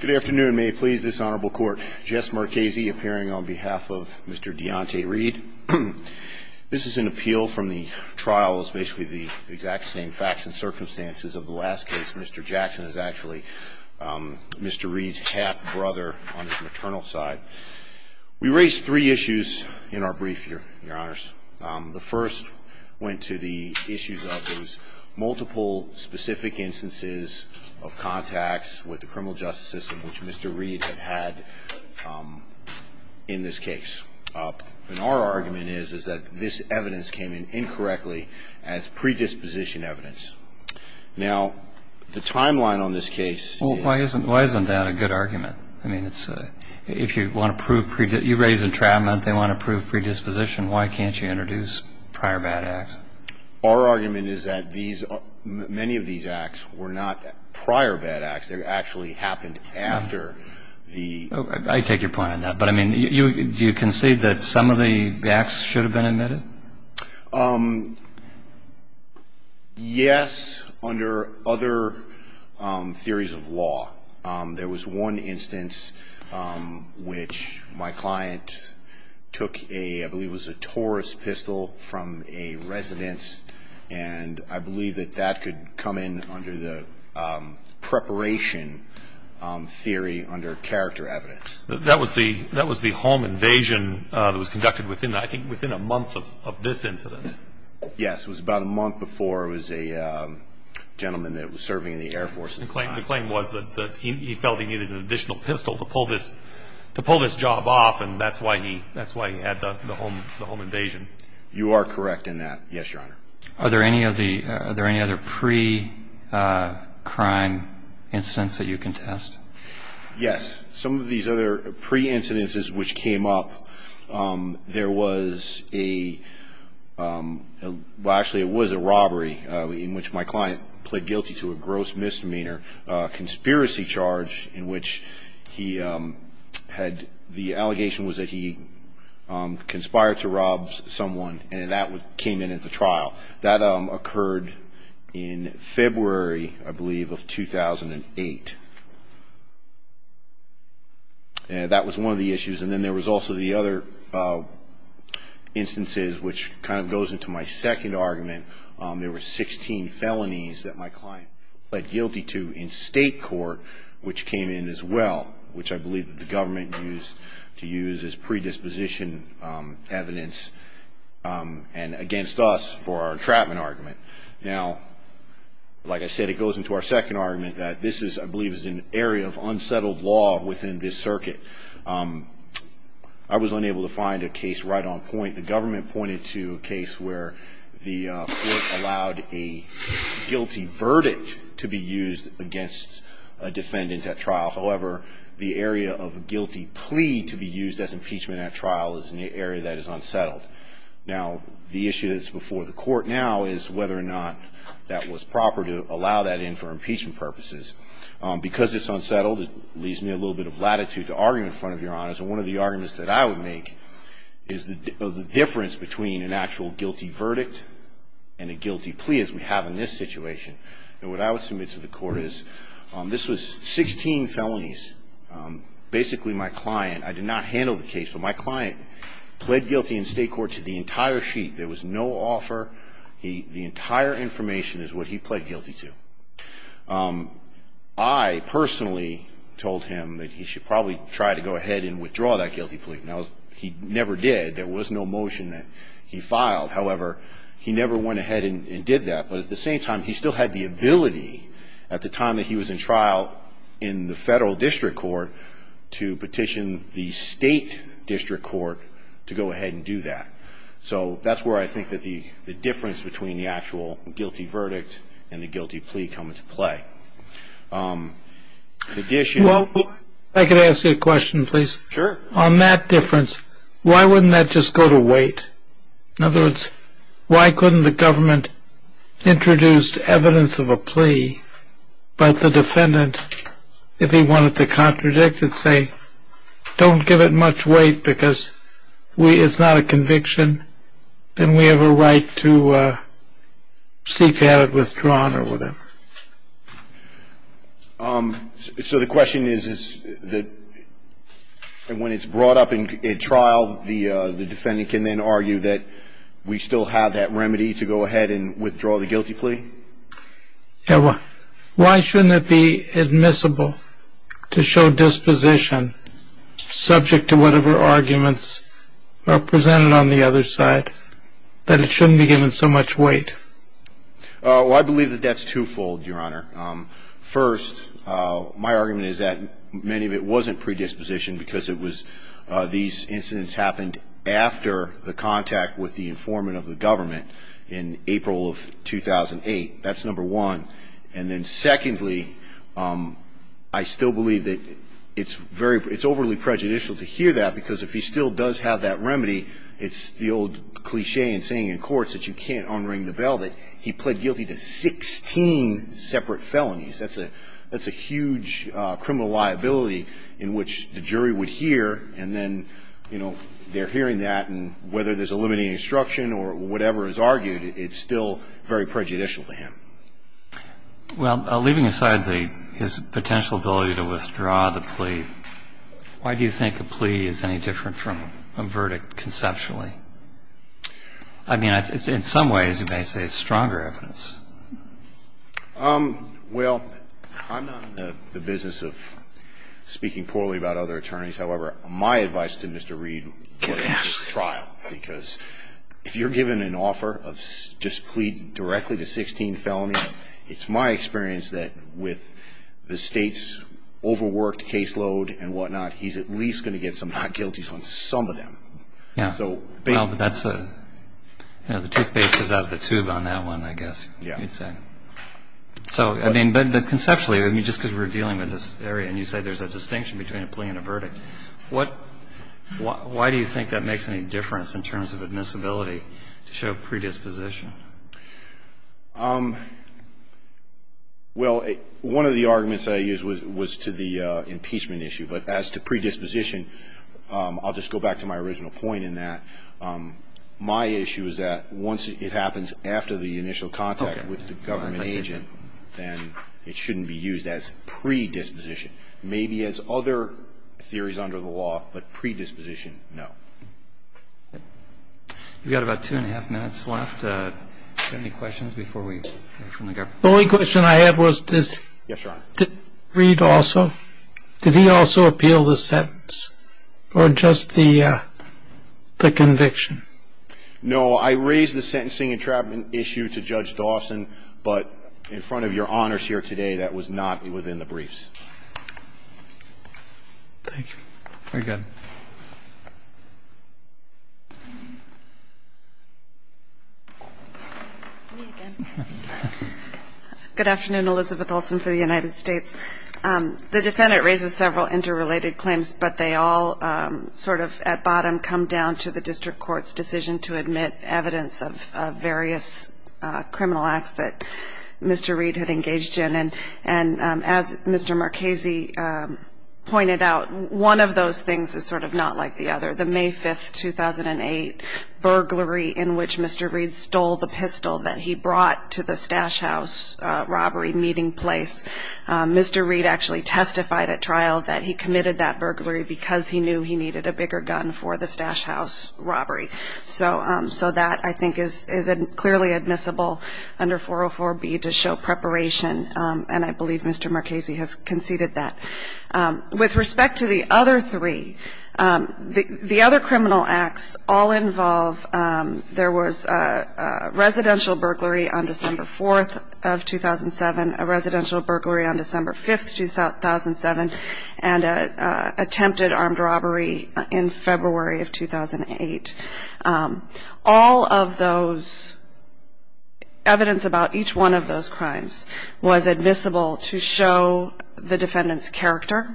Good afternoon may please this honorable court Jess Marchese appearing on behalf of Mr. Deonte Reed This is an appeal from the trial is basically the exact same facts and circumstances of the last case. Mr. Jackson is actually Mr. Reed's half-brother on his maternal side We raised three issues in our brief here your honors the first went to the issues of those multiple specific instances of Contacts with the criminal justice system, which Mr. Reed had in this case And our argument is is that this evidence came in incorrectly as predisposition evidence Now the timeline on this case why isn't why isn't that a good argument? I mean, it's if you want to prove predict you raise entrapment. They want to prove predisposition Why can't you introduce prior bad acts? Our argument is that these Many of these acts were not prior bad acts there actually happened after The I take your point on that, but I mean you you can see that some of the acts should have been admitted Yes under other theories of law There was one instance which my client took a I believe was a Taurus pistol from a residence and I believe that that could come in under the preparation Theory under character evidence that was the that was the home invasion It was conducted within I think within a month of this incident. Yes, it was about a month before it was a Gentleman that was serving in the Air Force and claim the claim was that he felt he needed an additional pistol to pull this To pull this job off and that's why he that's why he had the home the home invasion You are correct in that yes, your honor are there any of the are there any other pre Crime incidents that you can test. Yes, some of these other pre incidences which came up there was a Well, actually it was a robbery in which my client pled guilty to a gross misdemeanor conspiracy charge in which he Had the allegation was that he? Conspired to rob someone and that would came in at the trial that occurred in February I believe of 2008 And that was one of the issues and then there was also the other Instances which kind of goes into my second argument There were 16 felonies that my client pled guilty to in state court Which came in as well, which I believe that the government used to use as predisposition evidence and against us for our trapment argument now Like I said, it goes into our second argument that this is I believe is an area of unsettled law within this circuit. I was unable to find a case right on point the government pointed to a case where the allowed a Defendant at trial However, the area of a guilty plea to be used as impeachment at trial is in the area that is unsettled now The issue that's before the court now is whether or not that was proper to allow that in for impeachment purposes Because it's unsettled it leaves me a little bit of latitude to argue in front of your honors one of the arguments that I would make is the difference between an actual guilty verdict and I would submit to the court is this was 16 felonies Basically my client I did not handle the case, but my client pled guilty in state court to the entire sheet There was no offer. He the entire information is what he pled guilty to I Personally told him that he should probably try to go ahead and withdraw that guilty plea now He never did there was no motion that he filed However, he never went ahead and did that but at the same time He still had the ability at the time that he was in trial in the federal district court to petition the state District Court to go ahead and do that So that's where I think that the the difference between the actual guilty verdict and the guilty plea come into play Edition well, I could ask you a question, please sure on that difference. Why wouldn't that just go to wait? In other words, why couldn't the government? introduced evidence of a plea but the defendant if he wanted to contradict it say don't give it much weight because we it's not a conviction and we have a right to Seek at it withdrawn or whatever So the question is is that And when it's brought up in trial the the defendant can then argue that We still have that remedy to go ahead and withdraw the guilty plea Yeah, well, why shouldn't it be admissible to show disposition? subject to whatever arguments Are presented on the other side that it shouldn't be given so much weight. I Believe that that's twofold your honor first My argument is that many of it wasn't predisposition because it was these incidents happened after the contact with the informant of the government in April of 2008 that's number one and then secondly I Still believe that it's very it's overly prejudicial to hear that because if he still does have that remedy It's the old cliche and saying in courts that you can't unring the bell that he pled guilty to 16 separate felonies, that's a that's a huge criminal liability in which the jury would hear and then you know They're hearing that and whether there's a limiting instruction or whatever is argued. It's still very prejudicial to him Well leaving aside the his potential ability to withdraw the plea Why do you think a plea is any different from a verdict conceptually? I? Um, well, I'm not the business of Speaking poorly about other attorneys. However, my advice to mr. Reed cash trial because if you're given an offer of just plead directly to 16 felonies It's my experience that with the state's Overworked caseload and whatnot. He's at least going to get some not guilty from some of them. Yeah, so that's a You know the toothpaste is out of the tube on that one, I guess yeah, it's in So I mean, but conceptually I mean just because we're dealing with this area and you say there's a distinction between a plea and a verdict What? Why do you think that makes any difference in terms of admissibility to show predisposition? Well, one of the arguments I use was to the impeachment issue but as to predisposition I'll just go back to my original point in that My issue is that once it happens after the initial contact with the government agent Then it shouldn't be used as predisposition Maybe as other theories under the law, but predisposition. No You've got about two and a half minutes left Only question I have was this read also, did he also appeal the sentence or just the The conviction No, I raised the sentencing entrapment issue to judge Dawson, but in front of your honors here today, that was not within the briefs Thank you very good Good afternoon, Elizabeth Olsen for the United States The defendant raises several interrelated claims, but they all Sort of at bottom come down to the district court's decision to admit evidence of various criminal acts that Mr. Reid had engaged in and and as mr. Marchesi Pointed out one of those things is sort of not like the other the May 5th 2008 Burglary in which mr. Reid stole the pistol that he brought to the stash house robbery meeting place Mr. Reid actually testified at trial that he committed that burglary because he knew he needed a bigger gun for the stash house Robbery, so so that I think is isn't clearly admissible under 404 B to show preparation And I believe mr. Marchesi has conceded that with respect to the other three the other criminal acts all involve there was a Presidential burglary on December 5th 2007 and a attempted armed robbery in February of 2008 all of those Evidence about each one of those crimes was admissible to show the defendants character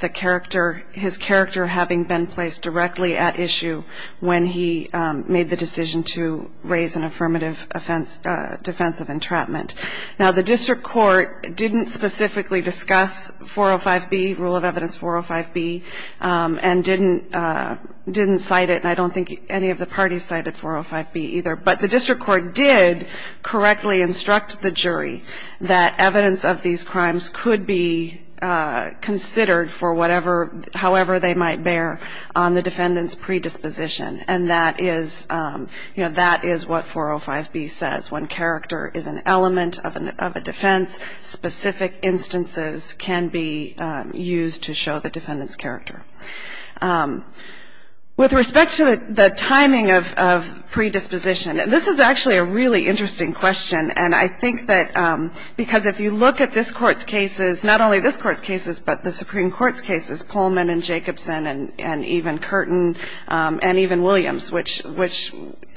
The character his character having been placed directly at issue when he made the decision to raise an affirmative Offense defense of entrapment now the district court didn't specifically discuss 405 B rule of evidence 405 B and didn't Didn't cite it, and I don't think any of the parties cited 405 B either, but the district court did correctly instruct the jury that evidence of these crimes could be Considered for whatever however they might bear on the defendants predisposition, and that is You know that is what 405 B says when character is an element of a defense specific instances can be Used to show the defendants character With respect to the timing of Predisposition and this is actually a really interesting question And I think that because if you look at this courts cases not only this courts cases But the Supreme Court's cases Pullman and Jacobson and and even Curtin and even Williams Which which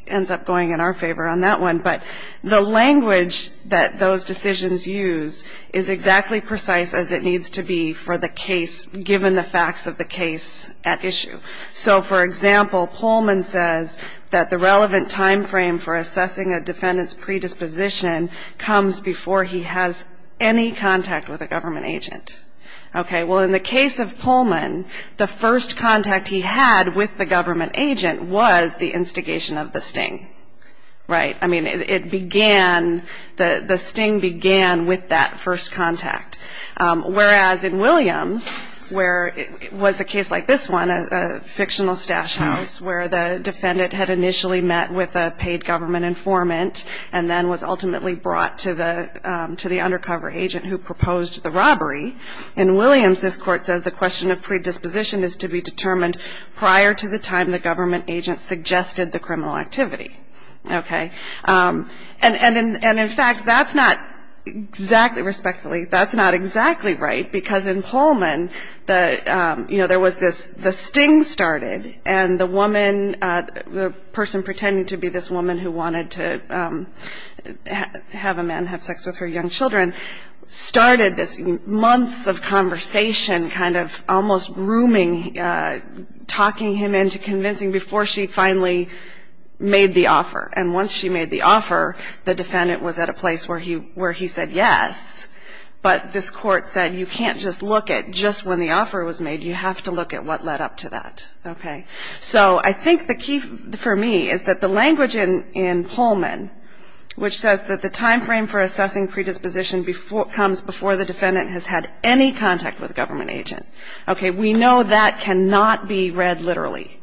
ends up going in our favor on that one? But the language that those decisions use is Exactly precise as it needs to be for the case given the facts of the case at issue So for example Pullman says that the relevant time frame for assessing a defendants predisposition Comes before he has any contact with a government agent Okay, well in the case of Pullman the first contact he had with the government agent was the instigation of the sting Right, I mean it began the the sting began with that first contact whereas in Williams where it was a case like this one a fictional stash house where the defendant had initially met with a paid government informant and then was ultimately brought to the To the undercover agent who proposed the robbery in Williams This court says the question of predisposition is to be determined prior to the time the government agent suggested the criminal activity Okay, and and in and in fact, that's not exactly respectfully that's not exactly right because in Pullman the you know there was this the sting started and the woman the person pretending to be this woman who wanted to Have a man have sex with her young children Started this months of conversation kind of almost grooming Talking him into convincing before she finally Made the offer and once she made the offer the defendant was at a place where he where he said yes But this court said you can't just look at just when the offer was made you have to look at what led up to that Okay, so I think the key for me is that the language in in Pullman Which says that the time frame for assessing predisposition before comes before the defendant has had any contact with a government agent, okay? We know that cannot be read literally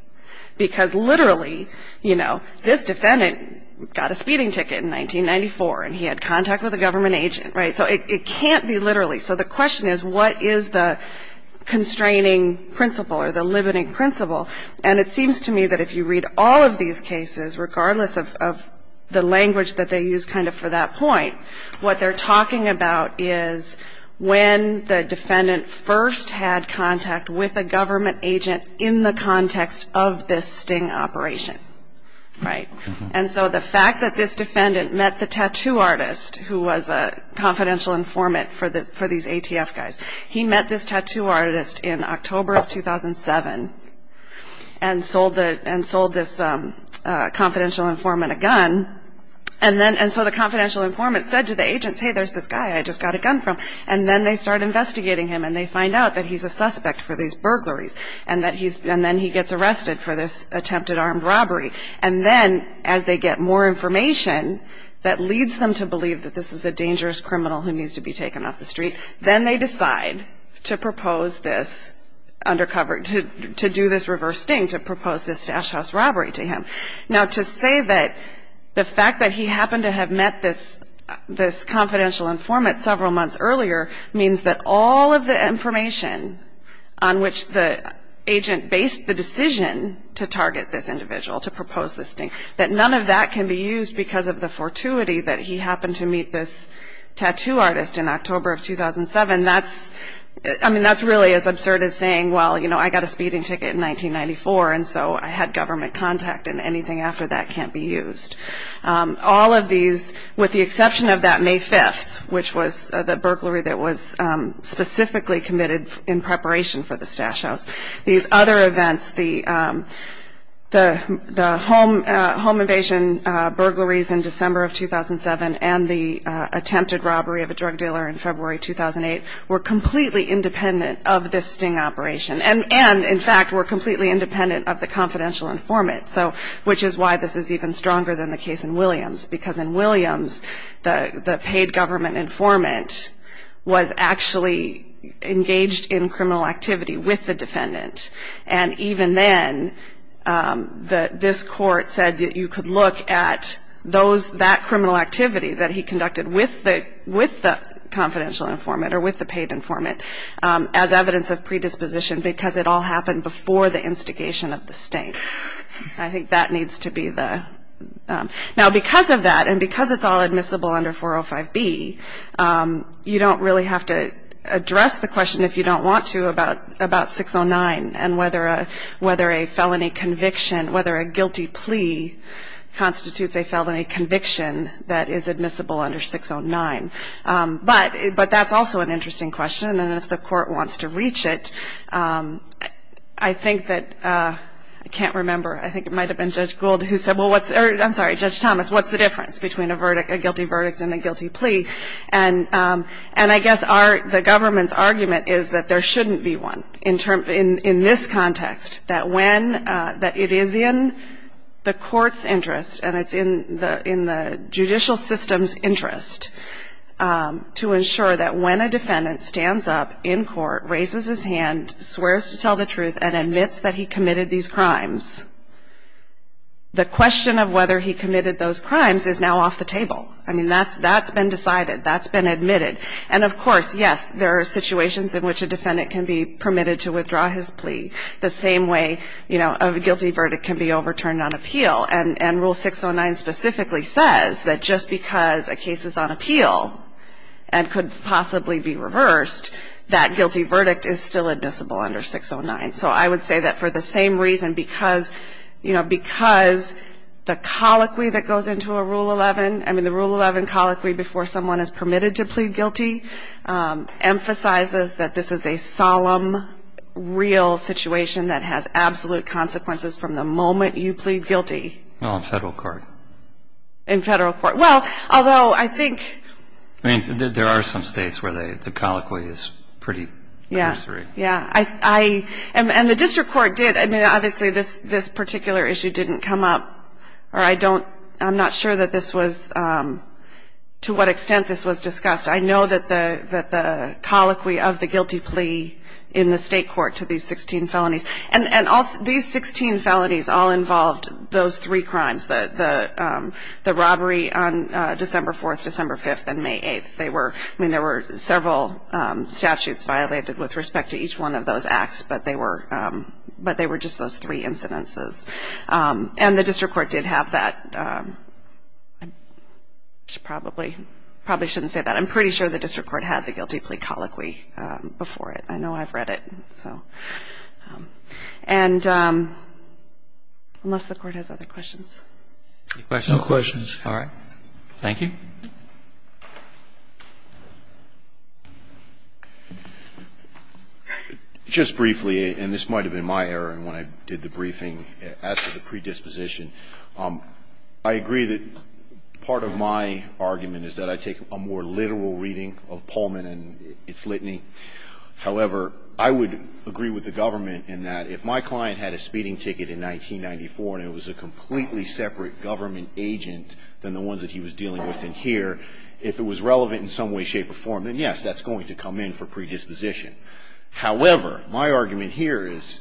Because literally, you know this defendant got a speeding ticket in 1994 and he had contact with a government agent, right? so it can't be literally so the question is what is the constraining principle or the limiting principle and it seems to me that if you read all of these cases regardless of The language that they use kind of for that point what they're talking about is When the defendant first had contact with a government agent in the context of this sting operation right, and so the fact that this defendant met the tattoo artist who was a Confidential informant for the for these ATF guys. He met this tattoo artist in October of 2007 and sold it and sold this Confidential informant a gun and then and so the confidential informant said to the agents. Hey, there's this guy I just got a gun from and then they start Investigating him and they find out that he's a suspect for these burglaries and that he's and then he gets arrested for this Attempted armed robbery and then as they get more information That leads them to believe that this is a dangerous criminal who needs to be taken off the street Then they decide to propose this Undercover to do this reverse sting to propose this stash house robbery to him now to say that The fact that he happened to have met this this confidential informant several months earlier means that all of the information on which the Agent based the decision to target this individual to propose this thing that none of that can be used because of the fortuity that he happened to meet this Tattoo artist in October of 2007. That's I mean, that's really as absurd as saying Well, you know, I got a speeding ticket in 1994. And so I had government contact and anything after that can't be used all of these with the exception of that May 5th, which was the burglary that was specifically committed in preparation for the stash house these other events the the the home home invasion Burglaries in December of 2007 and the attempted robbery of a drug dealer in February 2008 We're completely independent of this sting operation and and in fact, we're completely independent of the confidential informant So which is why this is even stronger than the case in Williams because in Williams the the paid government informant was actually engaged in criminal activity with the defendant and even then That this court said that you could look at those that criminal activity that he conducted with the with the Confidential informant or with the paid informant as evidence of predisposition because it all happened before the instigation of the state I think that needs to be the Now because of that and because it's all admissible under 405 B you don't really have to address the question if you don't want to about about 609 and whether a felony conviction whether a guilty plea Constitutes a felony conviction that is admissible under 609 But but that's also an interesting question. And if the court wants to reach it, I Think that I can't remember. I think it might have been judge Gould who said well, what's I'm sorry judge Thomas what's the difference between a verdict a guilty verdict and a guilty plea and And I guess our the government's argument is that there shouldn't be one in term in in this context that when That it is in the court's interest and it's in the in the judicial system's interest to ensure that when a defendant stands up in court raises his hand swears to tell the truth and admits that he committed these crimes The question of whether he committed those crimes is now off the table. I mean, that's that's been decided That's been admitted. And of course, yes There are situations in which a defendant can be permitted to withdraw his plea the same way you know of a guilty verdict can be overturned on appeal and and rule 609 specifically says that just because a case is on appeal and Could possibly be reversed that guilty verdict is still admissible under 609 so I would say that for the same reason because you know, because The colloquy that goes into a rule 11, I mean the rule 11 colloquy before someone is permitted to plead guilty Emphasizes that this is a solemn Real situation that has absolute consequences from the moment you plead guilty No federal court in Federal court. Well, although I think I mean there are some states where they the colloquy is pretty. Yeah Yeah, I and the district court did I mean obviously this this particular issue didn't come up Or I don't I'm not sure that this was To what extent this was discussed? I know that the that the colloquy of the guilty plea in the state court to these 16 felonies and and also these 16 felonies all involved those three crimes that the The robbery on December 4th, December 5th and May 8th. They were I mean there were several Statutes violated with respect to each one of those acts, but they were But they were just those three incidences And the district court did have that Probably probably shouldn't say that I'm pretty sure the district court had the guilty plea colloquy before it. I know I've read it. So and Unless the court has other questions questions. All right. Thank you Just Briefly and this might have been my error and when I did the briefing as the predisposition, um, I agree that Part of my argument is that I take a more literal reading of Pullman and its litany however, I would agree with the government in that if my client had a speeding ticket in 1994 and it was a completely separate government agent than the ones that he was dealing with in here if it was relevant in some Way shape or form and yes, that's going to come in for predisposition However, my argument here is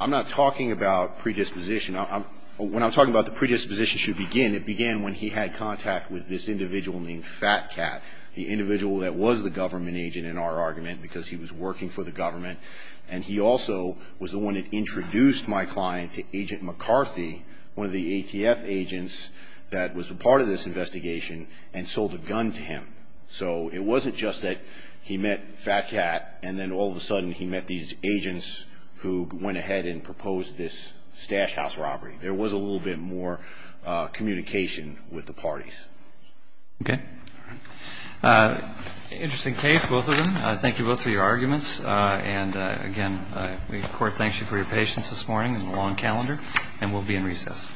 I'm not talking about predisposition I'm when I'm talking about the predisposition should begin it began when he had contact with this individual named fat cat The individual that was the government agent in our argument because he was working for the government And he also was the one that introduced my client to agent McCarthy One of the ATF agents that was a part of this investigation and sold a gun to him So it wasn't just that he met fat cat and then all of a sudden he met these agents Who went ahead and proposed this stash house robbery. There was a little bit more communication with the parties Okay Interesting case both of them. I thank you both for your arguments and again We court thanks you for your patience this morning in the long calendar and we'll be in recess